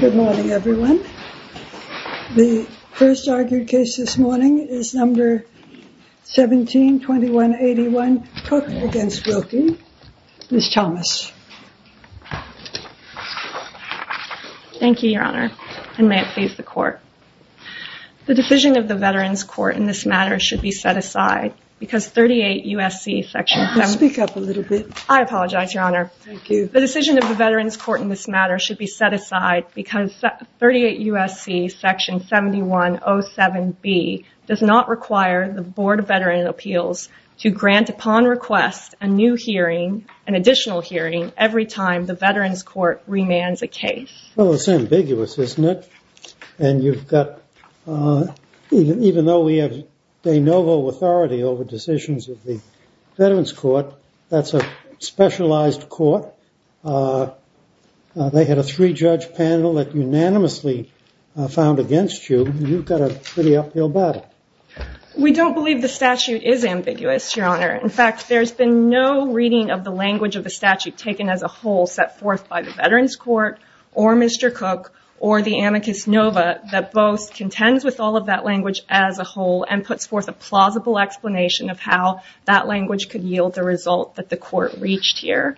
Good morning, everyone. The first argued case this morning is number 172181 Cook against Wilkie. Ms. Thomas. Thank you, Your Honor, and may it please the Court. The decision of the Veterans Court in this matter should be set aside because 38 U.S.C. Speak up a little bit. I apologize, Your Honor. Thank you. The decision of the Veterans Court in this matter should be set aside because 38 U.S.C. Section 7107B does not require the Board of Veterans Appeals to grant upon request a new hearing, an additional hearing, every time the Veterans Court remands a case. Well, it's ambiguous, isn't it? And you've got, even though we have de novo authority over decisions of the Veterans Court, that's a specialized court. They had a three-judge panel that unanimously found against you. You've got a pretty uphill battle. We don't believe the statute is ambiguous, Your Honor. In fact, there's been no reading of the language of the statute taken as a whole set forth by the Veterans Court or Mr. Cook or the amicus nova that both contends with all of that language as a whole and puts forth a result that the court reached here.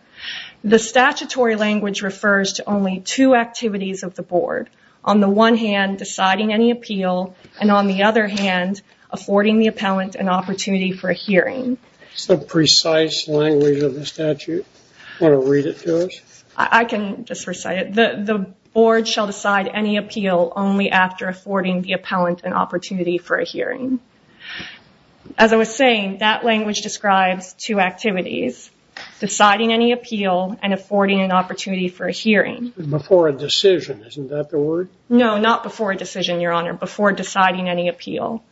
The statutory language refers to only two activities of the Board. On the one hand, deciding any appeal, and on the other hand, affording the appellant an opportunity for a hearing. Is the precise language of the statute? Do you want to read it to us? I can just recite it. The Board shall decide any appeal only after affording the appellant an opportunity for a hearing. As I was saying, that language describes two activities, deciding any appeal and affording an opportunity for a hearing. Before a decision, isn't that the word? No, not before a decision, Your Honor. Before deciding any appeal.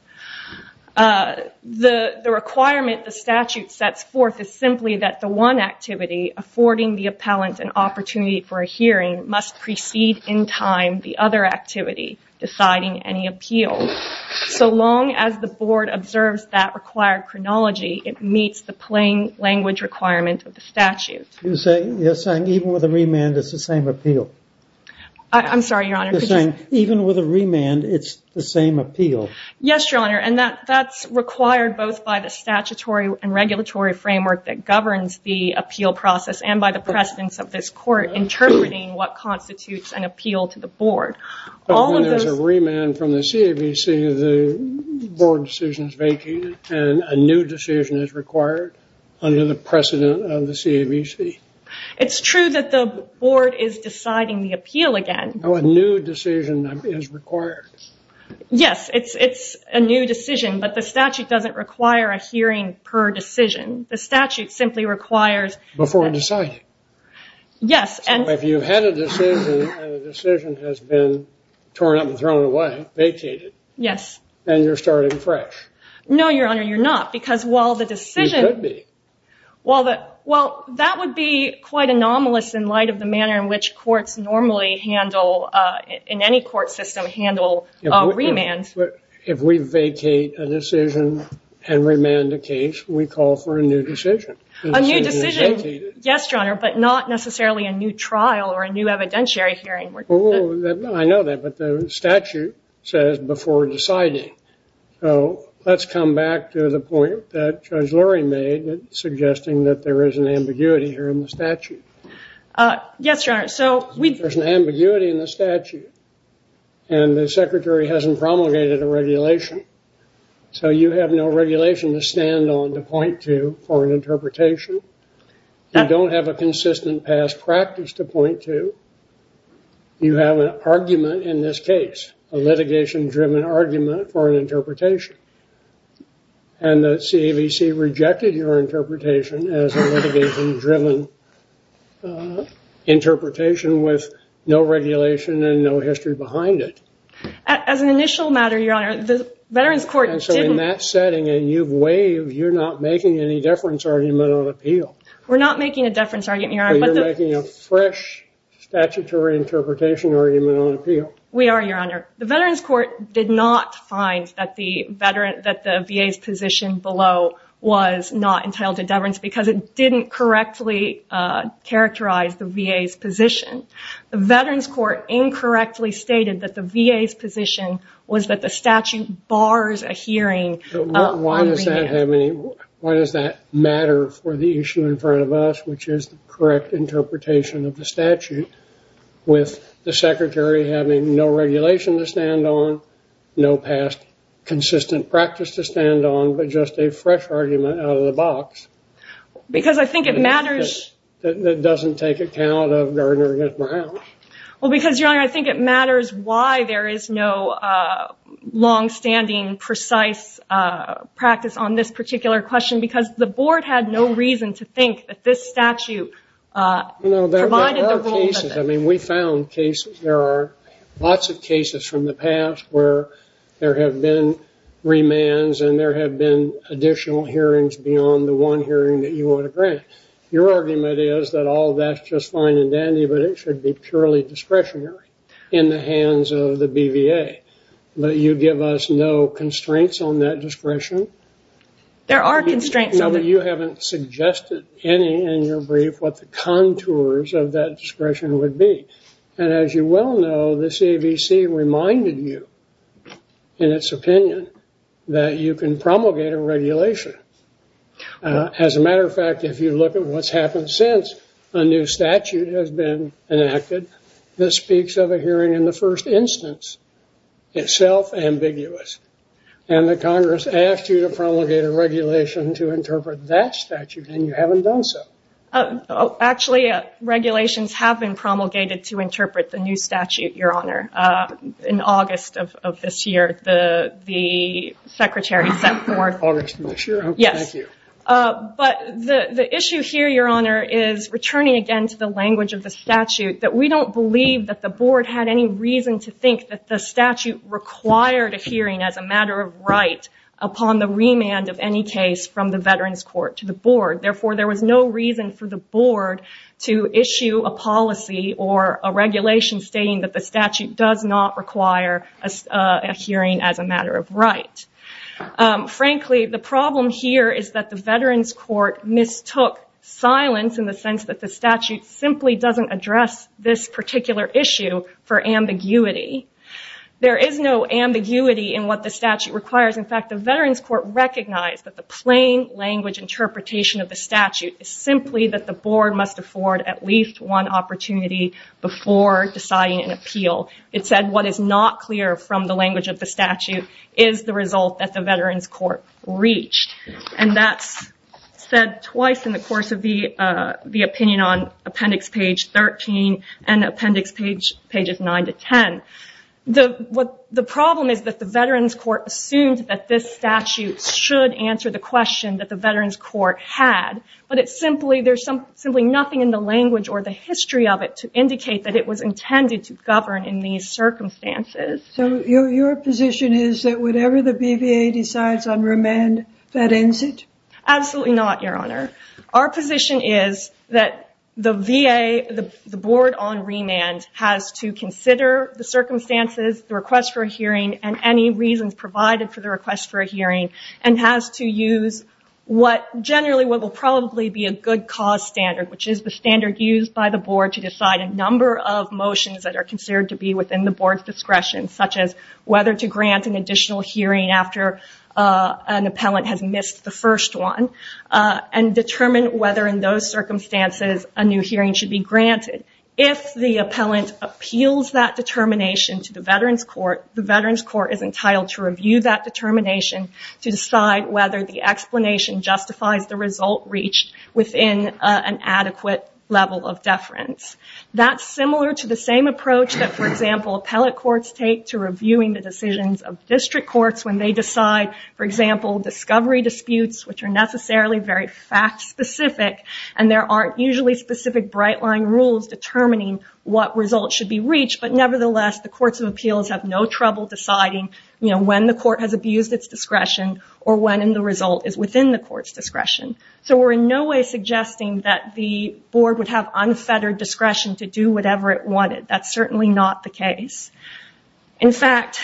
The requirement the statute sets forth is simply that the one activity, affording the appellant an opportunity for a hearing, must precede in time the other activity, deciding any appeal. So long as the Board observes that required chronology, it meets the plain language requirement of the statute. You're saying even with a remand, it's the same appeal? I'm sorry, Your Honor. Even with a remand, it's the same appeal? Yes, Your Honor, and that's required both by the statutory and regulatory framework that governs the appeal process and by the precedence of this court interpreting what constitutes an appeal to the Board. But when there's a remand from the CAVC, the Board decision is vacated and a new decision is required under the precedent of the CAVC. It's true that the Board is deciding the appeal again. No, a new decision is required. Yes, it's a new decision, but the statute doesn't require a hearing per decision. The statute simply requires... Before deciding. So if you've had a decision and the decision has been torn up and thrown away, vacated, and you're starting fresh. No, Your Honor, you're not, because while the decision... You could be. Well, that would be quite anomalous in light of the manner in which courts normally handle, in any court system, handle remands. If we vacate a decision and remand a case, we call for a new decision. A new decision. Yes, Your Honor, but not necessarily a new trial or a new evidentiary hearing. I know that, but the statute says before deciding. So let's come back to the point that Judge Lurie made, suggesting that there is an ambiguity here in the statute. Yes, Your Honor. There's an ambiguity in the statute, and the Secretary hasn't promulgated a regulation. So you have no regulation to stand on to point to for an interpretation. You don't have a consistent past practice to point to. You have an argument in this case, a litigation-driven argument for an interpretation. And the CAVC rejected your interpretation as a litigation-driven interpretation with no regulation and no history behind it. As an initial matter, Your Honor, the Veterans Court didn't... And so in that setting, and you've waived, you're not making any deference argument on appeal. We're not making a deference argument, Your Honor. But you're making a fresh statutory interpretation argument on appeal. We are, Your Honor. The Veterans Court did not find that the VA's position below was not entitled to deference, because it didn't correctly characterize the VA's position. The Veterans Court incorrectly stated that the VA's position was that the statute bars a hearing. Why does that matter for the issue in front of us, which is the correct interpretation of the statute, with the Secretary having no regulation to stand on, no past consistent practice to stand on, but just a fresh argument out of the box? Because I think it matters... That doesn't take account of Gardner v. Brown. Well, because, Your Honor, I think it matters why there is no longstanding, precise practice on this particular question, because the Board had no reason to think that this statute provided the rules of it. There are cases. I mean, we found cases. There are lots of cases from the past where there have been remands Your argument is that all that's just fine and dandy, but it should be purely discretionary in the hands of the BVA. But you give us no constraints on that discretion? There are constraints. You haven't suggested any in your brief what the contours of that discretion would be. And as you well know, the CAVC reminded you, in its opinion, that you can promulgate a regulation. As a matter of fact, if you look at what's happened since a new statute has been enacted, this speaks of a hearing in the first instance. It's self-ambiguous. And the Congress asked you to promulgate a regulation to interpret that statute, and you haven't done so. Actually, regulations have been promulgated to interpret the new statute, Your Honor. In August of this year, the Secretary sent the word. August of this year? Yes. Thank you. But the issue here, Your Honor, is, returning again to the language of the statute, that we don't believe that the Board had any reason to think that the statute required a hearing as a matter of right upon the remand of any case from the Veterans Court to the Board. Therefore, there was no reason for the Board to issue a policy or a regulation stating that the statute does not require a hearing as a matter of right. Frankly, the problem here is that the Veterans Court mistook silence in the sense that the statute simply doesn't address this particular issue for ambiguity. There is no ambiguity in what the statute requires. In fact, the Veterans Court recognized that the plain language interpretation of the statute is simply that the Board must afford at least one opportunity before deciding an appeal. It said what is not clear from the language of the statute is the result that the Veterans Court reached. And that's said twice in the course of the opinion on Appendix Page 13 and Appendix Pages 9 to 10. The problem is that the Veterans Court assumed that this statute should answer the question that the Veterans Court had. But there's simply nothing in the language or the history of it to indicate that it was intended to govern in these circumstances. So your position is that whatever the BVA decides on remand, that ends it? Absolutely not, Your Honor. Our position is that the VA, the Board on remand, has to consider the circumstances, the request for a hearing, and any reasons provided for the request for a hearing, and has to use what generally will probably be a good cause standard, which is the standard used by the Board to decide a number of motions that are considered to be within the Board's discretion, such as whether to grant an additional hearing after an appellant has missed the first one. And determine whether, in those circumstances, a new hearing should be granted. If the appellant appeals that determination to the Veterans Court, the Veterans Court is entitled to review that determination to decide whether the explanation justifies the result reached within an adequate level of deference. That's similar to the same approach that, for example, appellate courts take to reviewing the decisions of district courts when they decide, for example, discovery disputes, which are necessarily very fact-specific, and there aren't usually specific bright-line rules determining what results should be reached, but nevertheless the courts of appeals have no trouble deciding when the court has abused its discretion or when the result is within the court's discretion. So we're in no way suggesting that the Board would have unfettered discretion to do whatever it wanted. That's certainly not the case. In fact,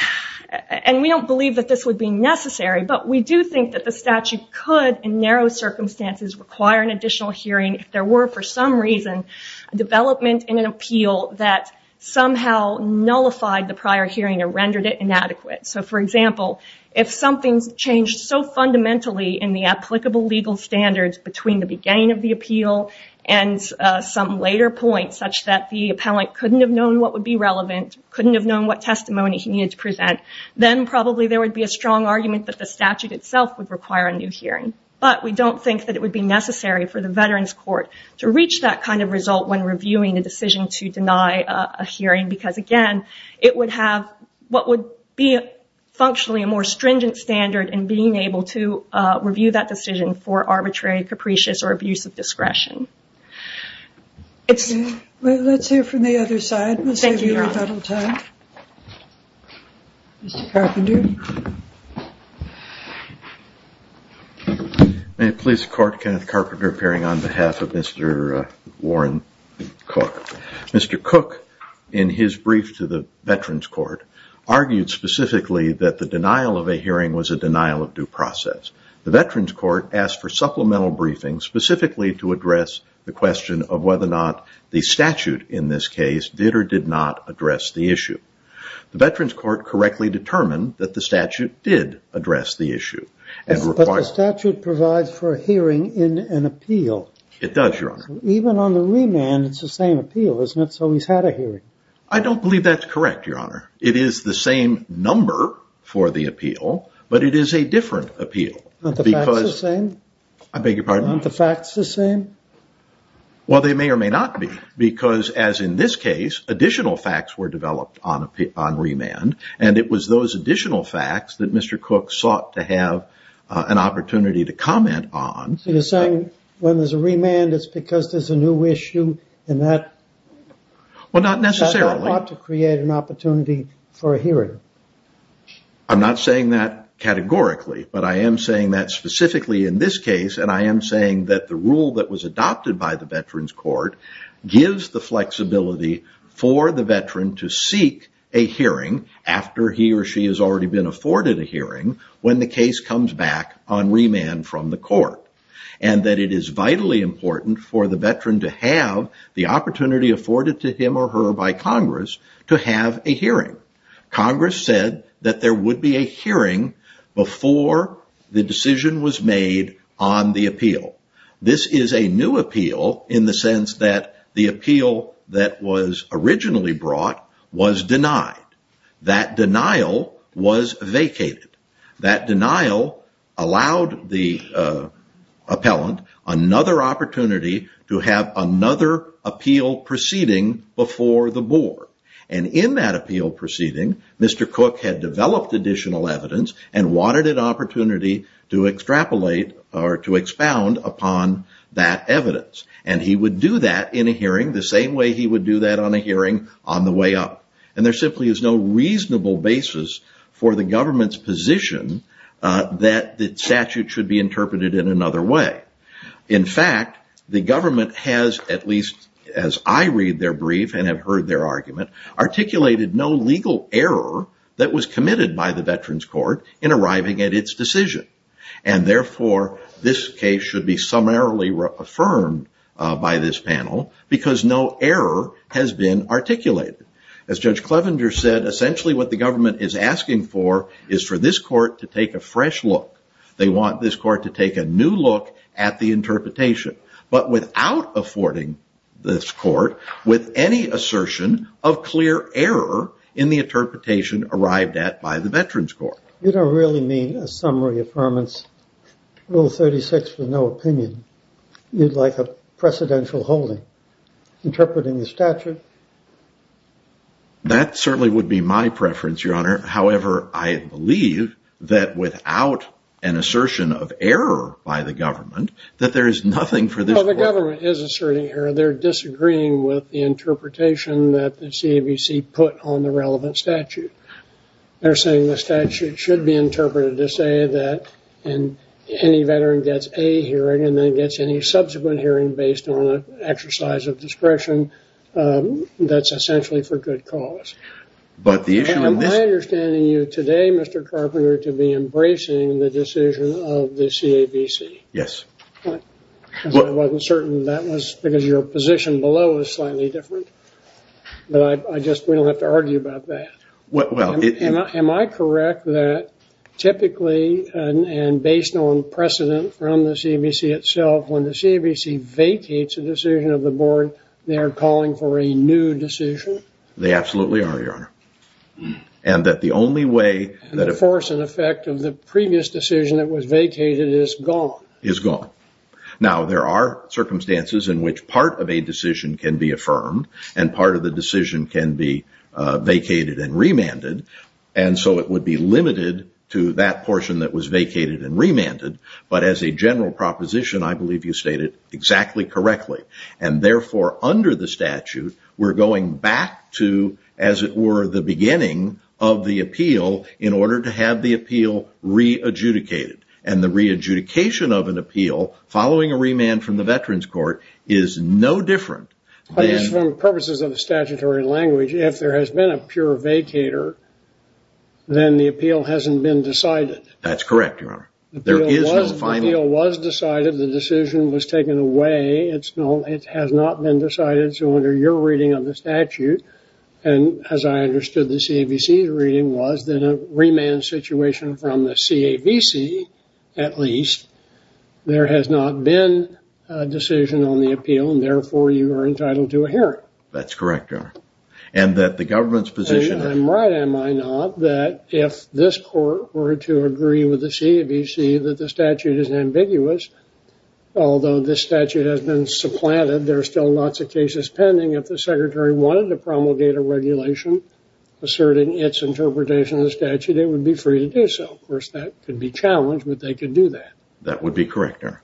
and we don't believe that this would be necessary, but we do think that the statute could, in narrow circumstances, require an additional hearing if there were, for some reason, a development in an appeal that somehow nullified the prior hearing or rendered it inadequate. So, for example, if something's changed so fundamentally in the applicable legal standards between the beginning of the appeal and some later point, such that the appellant couldn't have known what would be relevant, couldn't have known what testimony he needed to present, then probably there would be a strong argument that the statute itself would require a new hearing. But we don't think that it would be necessary for the Veterans Court to reach that kind of result when reviewing a decision to deny a hearing because, again, it would have what would be functionally a more stringent standard in being able to review that decision for arbitrary, capricious, or abusive discretion. Well, let's hear from the other side. Thank you, Your Honor. Mr. Carpenter. May it please the Court, Kenneth Carpenter appearing on behalf of Mr. Warren Cook. Mr. Cook, in his brief to the Veterans Court, argued specifically that the denial of a hearing was a denial of due process. The Veterans Court asked for supplemental briefings specifically to address the question of whether or not the statute in this case did or did not address the issue. The Veterans Court correctly determined that the statute did address the issue. But the statute provides for a hearing in an appeal. It does, Your Honor. Even on the remand, it's the same appeal, isn't it? So he's had a hearing. I don't believe that's correct, Your Honor. It is the same number for the appeal, but it is a different appeal. Aren't the facts the same? I beg your pardon? Aren't the facts the same? Well, they may or may not be, because as in this case, additional facts were developed on remand, and it was those additional facts that Mr. Cook sought to have an opportunity to comment on. So you're saying when there's a remand, it's because there's a new issue in that? Well, not necessarily. He sought to create an opportunity for a hearing. I'm not saying that categorically, but I am saying that specifically in this case, and I am saying that the rule that was adopted by the Veterans Court gives the flexibility for the veteran to seek a hearing after he or she has already been afforded a hearing when the case comes back on remand from the court, and that it is vitally important for the veteran to have the opportunity afforded to him or her by Congress to have a hearing. Congress said that there would be a hearing before the decision was made on the appeal. This is a new appeal in the sense that the appeal that was originally brought was denied. That denial was vacated. That denial allowed the appellant another opportunity to have another appeal proceeding before the board, and in that appeal proceeding, Mr. Cook had developed additional evidence and wanted an opportunity to extrapolate or to expound upon that evidence, and he would do that in a hearing the same way he would do that on a hearing on the way up, and there simply is no reasonable basis for the government's position that the statute should be interpreted in another way. In fact, the government has, at least as I read their brief and have heard their argument, articulated no legal error that was committed by the Veterans Court in arriving at its decision, and therefore this case should be summarily affirmed by this panel because no error has been articulated. As Judge Clevenger said, essentially what the government is asking for is for this court to take a fresh look. They want this court to take a new look at the interpretation, but without affording this court with any assertion of clear error in the interpretation arrived at by the Veterans Court. You don't really mean a summary affirmance, Rule 36 with no opinion. You'd like a precedential holding interpreting the statute. That certainly would be my preference, Your Honor. However, I believe that without an assertion of error by the government that there is nothing for this court to do. Well, the government is asserting error. They're disagreeing with the interpretation that the CAVC put on the relevant statute. They're saying the statute should be interpreted to say that any veteran gets a hearing and then gets any subsequent hearing based on an exercise of discretion that's essentially for good cause. Am I understanding you today, Mr. Carpenter, to be embracing the decision of the CAVC? Yes. I wasn't certain that was because your position below is slightly different, but we don't have to argue about that. Am I correct that typically and based on precedent from the CAVC itself, when the CAVC vacates a decision of the board, they are calling for a new decision? They absolutely are, Your Honor. And that the only way that a force and effect of the previous decision that was vacated is gone? Is gone. Now, there are circumstances in which part of a decision can be affirmed and part of the decision can be vacated and remanded. And so it would be limited to that portion that was vacated and remanded. But as a general proposition, I believe you stated exactly correctly. And therefore, under the statute, we're going back to, as it were, the beginning of the appeal in order to have the appeal re-adjudicated. And the re-adjudication of an appeal following a remand from the Veterans Court is no different. But just for purposes of statutory language, if there has been a pure vacator, then the appeal hasn't been decided. That's correct, Your Honor. There is no final. The appeal was decided. The decision was taken away. It has not been decided. So under your reading of the statute, and as I understood the CAVC's reading, was that a remand situation from the CAVC, at least, there has not been a decision on the appeal. And therefore, you are entitled to a hearing. That's correct, Your Honor. And that the government's position… I'm right, am I not? That if this court were to agree with the CAVC that the statute is ambiguous, although this statute has been supplanted, there are still lots of cases pending. If the Secretary wanted to promulgate a regulation asserting its interpretation of the statute, it would be free to do so. Of course, that could be challenged, but they could do that. That would be correct, Your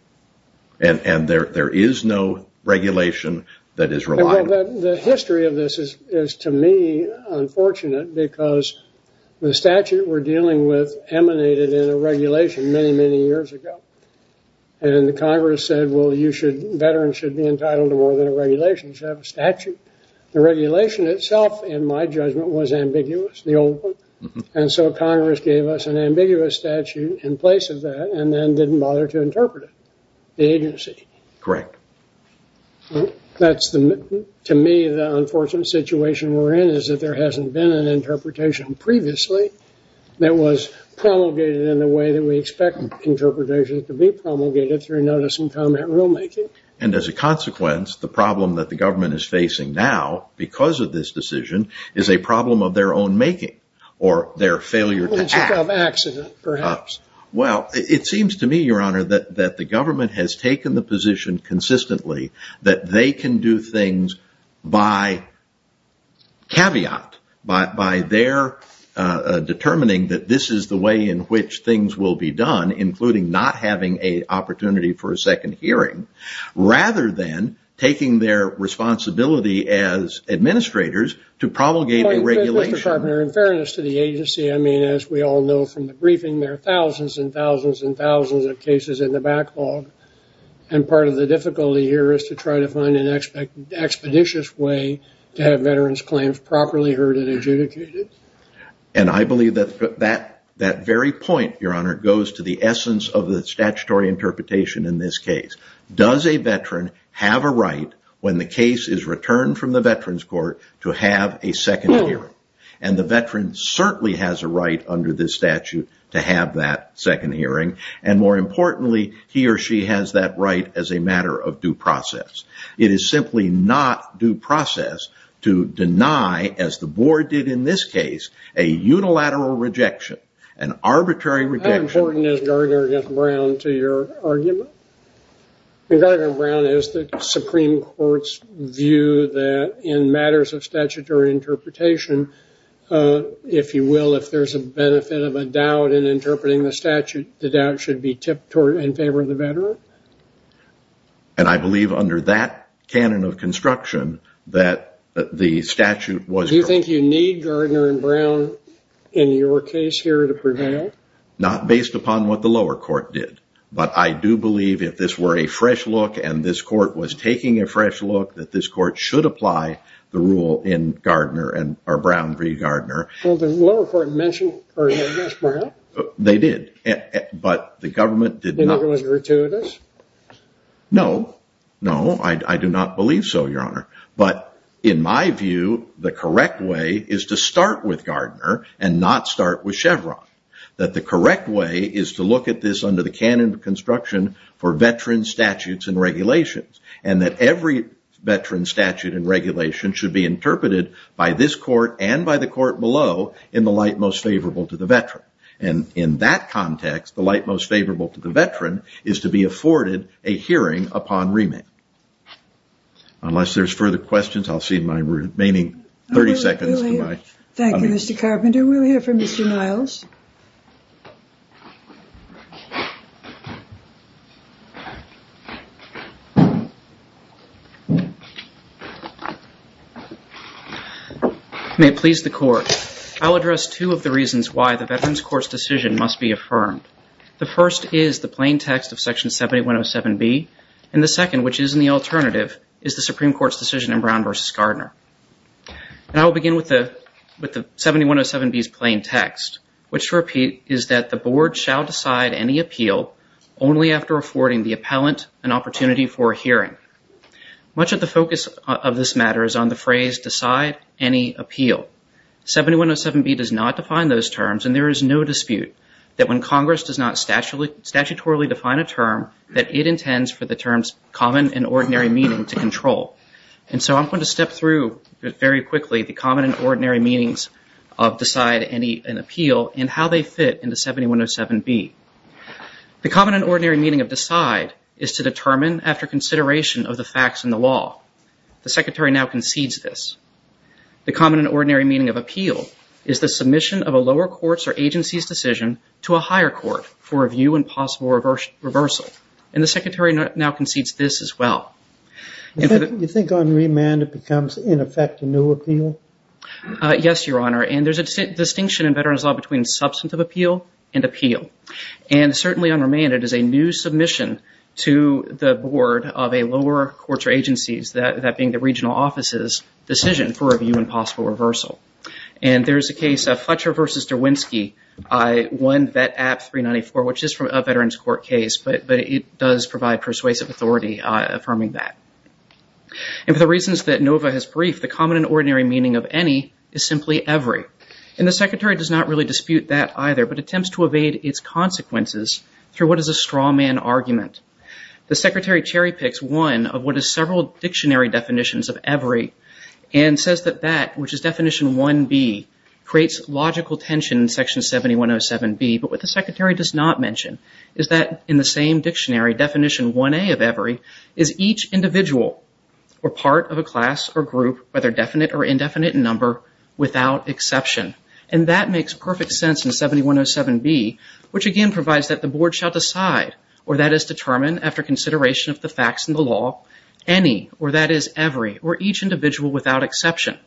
Honor. And there is no regulation that is reliable. The history of this is, to me, unfortunate because the statute we're dealing with emanated in a regulation many, many years ago. And the Congress said, well, veterans should be entitled to more than a regulation. They should have a statute. The regulation itself, in my judgment, was ambiguous, the old one. And so Congress gave us an ambiguous statute in place of that and then didn't bother to interpret it, the agency. Correct. That's, to me, the unfortunate situation we're in is that there hasn't been an interpretation previously that was promulgated in the way that we expect interpretations to be promulgated through notice and comment rulemaking. And as a consequence, the problem that the government is facing now because of this decision is a problem of their own making or their failure to… It's a CAV accident, perhaps. Well, it seems to me, Your Honor, that the government has taken the position consistently that they can do things by caveat, by their determining that this is the way in which things will be done, including not having an opportunity for a second hearing, rather than taking their responsibility as administrators to promulgate a regulation. Well, Mr. Carpenter, in fairness to the agency, I mean, as we all know from the briefing, there are thousands and thousands and thousands of cases in the backlog. And part of the difficulty here is to try to find an expeditious way to have veterans' claims properly heard and adjudicated. And I believe that that very point, Your Honor, goes to the essence of the statutory interpretation in this case. Does a veteran have a right when the case is returned from the Veterans Court to have a second hearing? And the veteran certainly has a right under this statute to have that second hearing. And more importantly, he or she has that right as a matter of due process. It is simply not due process to deny, as the board did in this case, a unilateral rejection, an arbitrary rejection. How important is Garner v. Brown to your argument? Garner v. Brown is the Supreme Court's view that in matters of statutory interpretation, if you will, if there's a benefit of a doubt in interpreting the statute, the doubt should be tipped in favor of the veteran. And I believe under that canon of construction that the statute was— Do you think you need Garner v. Brown in your case here to prevail? Not based upon what the lower court did. But I do believe if this were a fresh look and this court was taking a fresh look, that this court should apply the rule in Garner v. Brown. Well, the lower court mentioned Garner v. Brown. They did. But the government did not. Do you think Garner was gratuitous? No. No, I do not believe so, Your Honor. But in my view, the correct way is to start with Garner and not start with Chevron. That the correct way is to look at this under the canon of construction for veteran statutes and regulations. And that every veteran statute and regulation should be interpreted by this court and by the court below in the light most favorable to the veteran. And in that context, the light most favorable to the veteran is to be afforded a hearing upon remand. Unless there's further questions, I'll see my remaining 30 seconds to my— Thank you, Mr. Carpenter. We'll hear from Mr. Niles. May it please the court. I'll address two of the reasons why the Veterans Court's decision must be affirmed. The first is the plain text of Section 7107B. And the second, which is in the alternative, is the Supreme Court's decision in Brown v. Gardner. And I will begin with the—with the 7107B's plain text. Which, to repeat, is that the board shall decide any appeal only after affording the appellant an opportunity for a hearing. Much of the focus of this matter is on the phrase, decide any appeal. 7107B does not define those terms, and there is no dispute that when Congress does not statutorily define a term, that it intends for the terms common and ordinary meaning to control. And so I'm going to step through very quickly the common and ordinary meanings of decide any—an appeal and how they fit into 7107B. The common and ordinary meaning of decide is to determine after consideration of the facts in the law. The Secretary now concedes this. The common and ordinary meaning of appeal is the submission of a lower court's or agency's decision to a higher court for review and possible reversal. And the Secretary now concedes this as well. Do you think unremanded becomes, in effect, a new appeal? Yes, Your Honor. And there's a distinction in Veterans Law between substantive appeal and appeal. And certainly unremanded is a new submission to the board of a lower court's or agency's, that being the regional office's, decision for review and possible reversal. And there is a case, Fletcher v. Derwinski, I-1 Vet App 394, which is from a Veterans Court case, but it does provide persuasive authority affirming that. And for the reasons that Nova has briefed, the common and ordinary meaning of any is simply every. And the Secretary does not really dispute that either, but attempts to evade its consequences through what is a strawman argument. The Secretary cherry-picks one of what is several dictionary definitions of every and says that that, which is Definition 1B, creates logical tension in Section 7107B. But what the Secretary does not mention is that in the same dictionary, Definition 1A of every is each individual or part of a class or group, whether definite or indefinite number, without exception. And that makes perfect sense in 7107B, which again provides that the board shall decide, or that is determine, after consideration of the facts in the law, any, or that is every, or each individual without exception,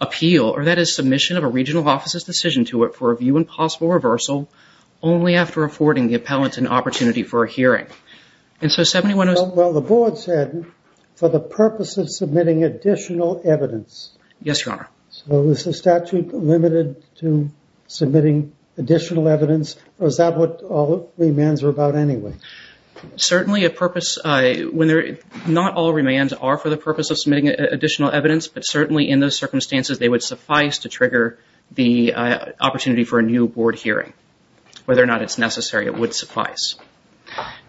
appeal, or that is submission of a regional office's decision to it for review and possible reversal, only after affording the appellant an opportunity for a hearing. Well, the board said, for the purpose of submitting additional evidence. Yes, Your Honor. So is the statute limited to submitting additional evidence, or is that what all remands are about anyway? Certainly a purpose, not all remands are for the purpose of submitting additional evidence, but certainly in those circumstances they would suffice to trigger the opportunity for a new board hearing. Whether or not it's necessary, it would suffice.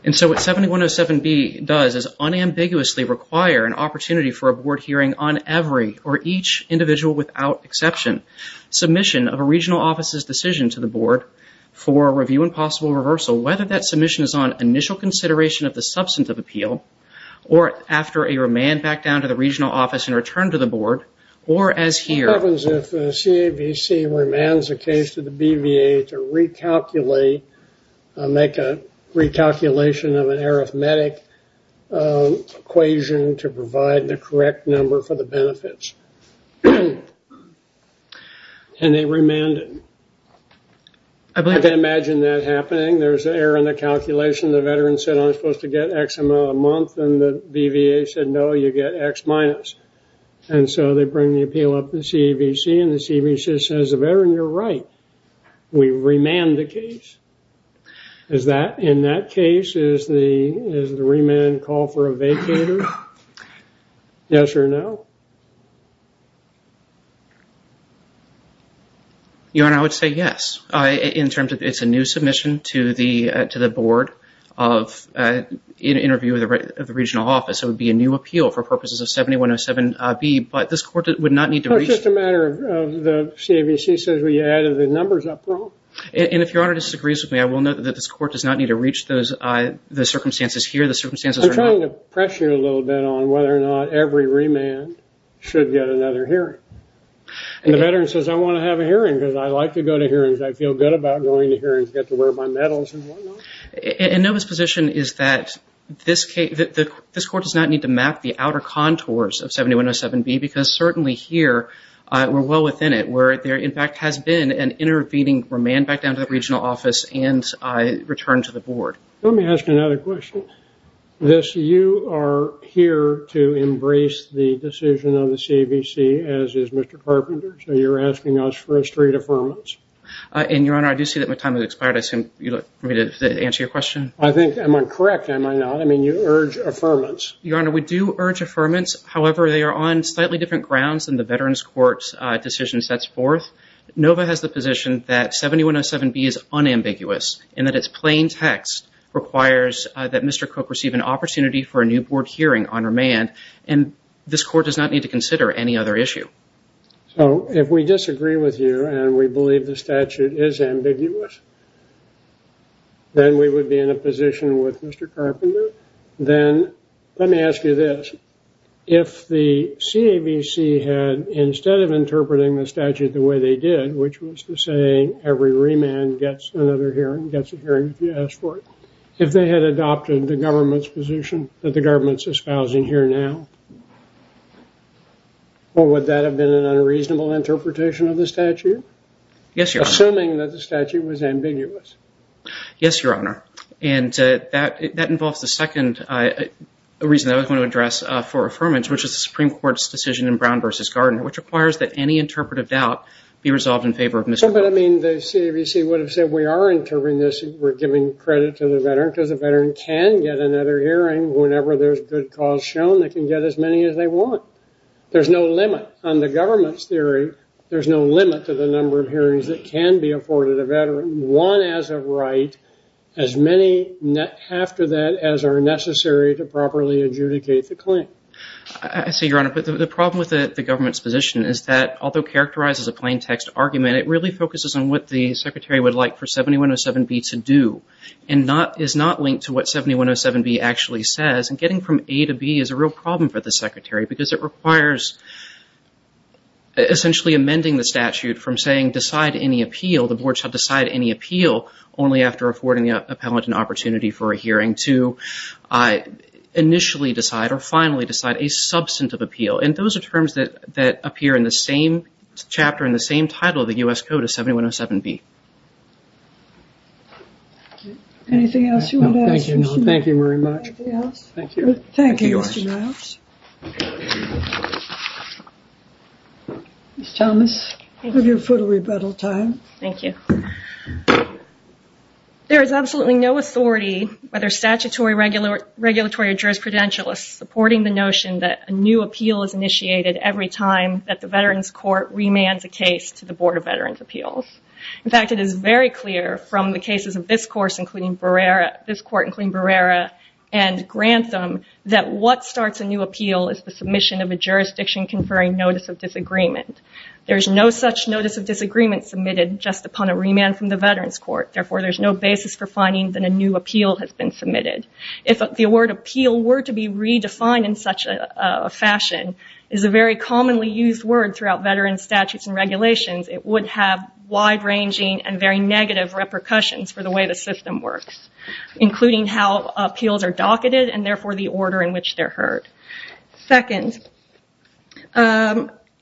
And so what 7107B does is unambiguously require an opportunity for a board hearing on every, or each individual without exception, submission of a regional office's decision to the board for review and possible reversal, whether that submission is on initial consideration of the substantive appeal, or after a remand back down to the regional office in return to the board, or as here. What happens if a CAVC remands a case to the BVA to recalculate, make a recalculation of an arithmetic equation to provide the correct number for the benefits? And they remanded. I can imagine that happening. There's an error in the calculation. The veteran said, I'm supposed to get X amount a month, and the BVA said, no, you get X minus. And so they bring the appeal up to CAVC, and the CAVC says, the veteran, you're right. We remand the case. In that case, does the remand call for a vacater? Yes or no? Your Honor, I would say yes. It's a new submission to the board of interview of the regional office. It would be a new appeal for purposes of 7107B, but this court would not need to reach. It's just a matter of the CAVC says, well, you added the numbers up wrong. And if Your Honor disagrees with me, I will note that this court does not need to reach the circumstances here. The circumstances are not. I'm trying to pressure you a little bit on whether or not every remand should get another hearing. And the veteran says, I want to have a hearing, because I like to go to hearings. I feel good about going to hearings, get to wear my medals and whatnot. And Nova's position is that this court does not need to map the outer contours of 7107B, because certainly here we're well within it, where there, in fact, has been an intervening remand back down to the regional office and returned to the board. Let me ask you another question. You are here to embrace the decision of the CAVC, as is Mr. Carpenter. So you're asking us for a straight affirmance. And, Your Honor, I do see that my time has expired. I assume you'd like me to answer your question? I think, am I correct, am I not? I mean, you urge affirmance. Your Honor, we do urge affirmance. However, they are on slightly different grounds than the Veterans Court's decision sets forth. Nova has the position that 7107B is unambiguous, and that its plain text requires that Mr. Cook receive an opportunity for a new board hearing on remand, and this court does not need to consider any other issue. So if we disagree with you and we believe the statute is ambiguous, then we would be in a position with Mr. Carpenter. Then let me ask you this. If the CAVC had, instead of interpreting the statute the way they did, which was to say every remand gets another hearing, gets a hearing if you ask for it, if they had adopted the government's position that the government is espousing here now, would that have been an unreasonable interpretation of the statute? Yes, Your Honor. Assuming that the statute was ambiguous. Yes, Your Honor. And that involves the second reason I was going to address for affirmance, which is the Supreme Court's decision in Brown v. Gardner, which requires that any interpretive doubt be resolved in favor of Mr. Carpenter. But, I mean, the CAVC would have said we are interpreting this, we're giving credit to the Veteran, because a Veteran can get another hearing whenever there's good cause shown, they can get as many as they want. There's no limit. On the government's theory, there's no limit to the number of hearings that can be afforded a Veteran, one as a right, as many after that as are necessary to properly adjudicate the claim. I see, Your Honor, but the problem with the government's position is that, although it characterizes a plain text argument, it really focuses on what the Secretary would like for 7107B to do, and is not linked to what 7107B actually says, and getting from A to B is a real problem for the Secretary, because it requires essentially amending the statute from saying decide any appeal, the Board shall decide any appeal, only after affording the appellant an opportunity for a hearing, to initially decide or finally decide a substantive appeal. And those are terms that appear in the same chapter, in the same title of the U.S. Code as 7107B. Anything else you want to add? No, thank you, Your Honor. Thank you very much. Thank you. Thank you, Mr. Niles. Thank you. Ms. Thomas? I'll give you a photo rebuttal time. Thank you. There is absolutely no authority, whether statutory, regulatory, or jurisprudentialist, supporting the notion that a new appeal is initiated every time that the Veterans Court remands a case to the Board of Veterans Appeals. In fact, it is very clear from the cases of this Court, including Barrera, and Grantham, that what starts a new appeal is the submission of a jurisdiction conferring notice of disagreement. There is no such notice of disagreement submitted just upon a remand from the Veterans Court. Therefore, there is no basis for finding that a new appeal has been submitted. If the word appeal were to be redefined in such a fashion, it is a very commonly used word throughout Veterans statutes and regulations, it would have wide-ranging and very negative repercussions for the way the system works, including how appeals are docketed and, therefore, the order in which they're heard. Second,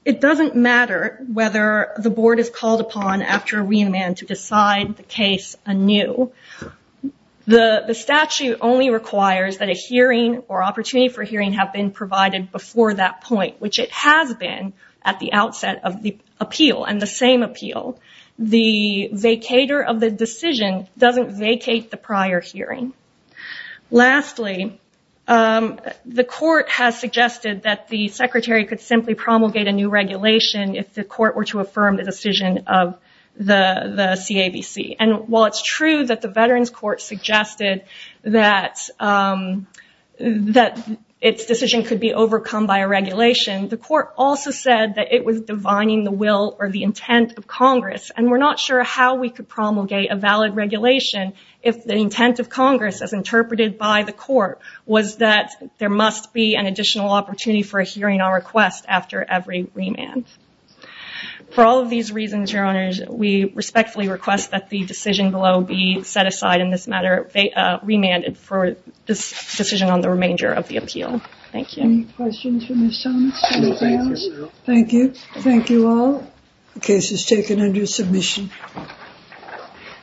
it doesn't matter whether the Board is called upon after a remand to decide the case anew. The statute only requires that a hearing or opportunity for hearing have been provided before that point, which it has been at the outset of the appeal and the same appeal. The vacator of the decision doesn't vacate the prior hearing. Lastly, the Court has suggested that the Secretary could simply promulgate a new regulation if the Court were to affirm the decision of the CAVC. And while it's true that the Veterans Court suggested that its decision could be overcome by a regulation, the Court also said that it was divining the will or the intent of Congress, and we're not sure how we could promulgate a valid regulation if the intent of Congress, as interpreted by the Court, was that there must be an additional opportunity for a hearing on request after every remand. For all of these reasons, Your Honors, we respectfully request that the decision below be set aside in this matter, remanded for this decision on the remainder of the appeal. Thank you. Any questions for Ms. Jones? Thank you. Thank you all. The case is taken under submission.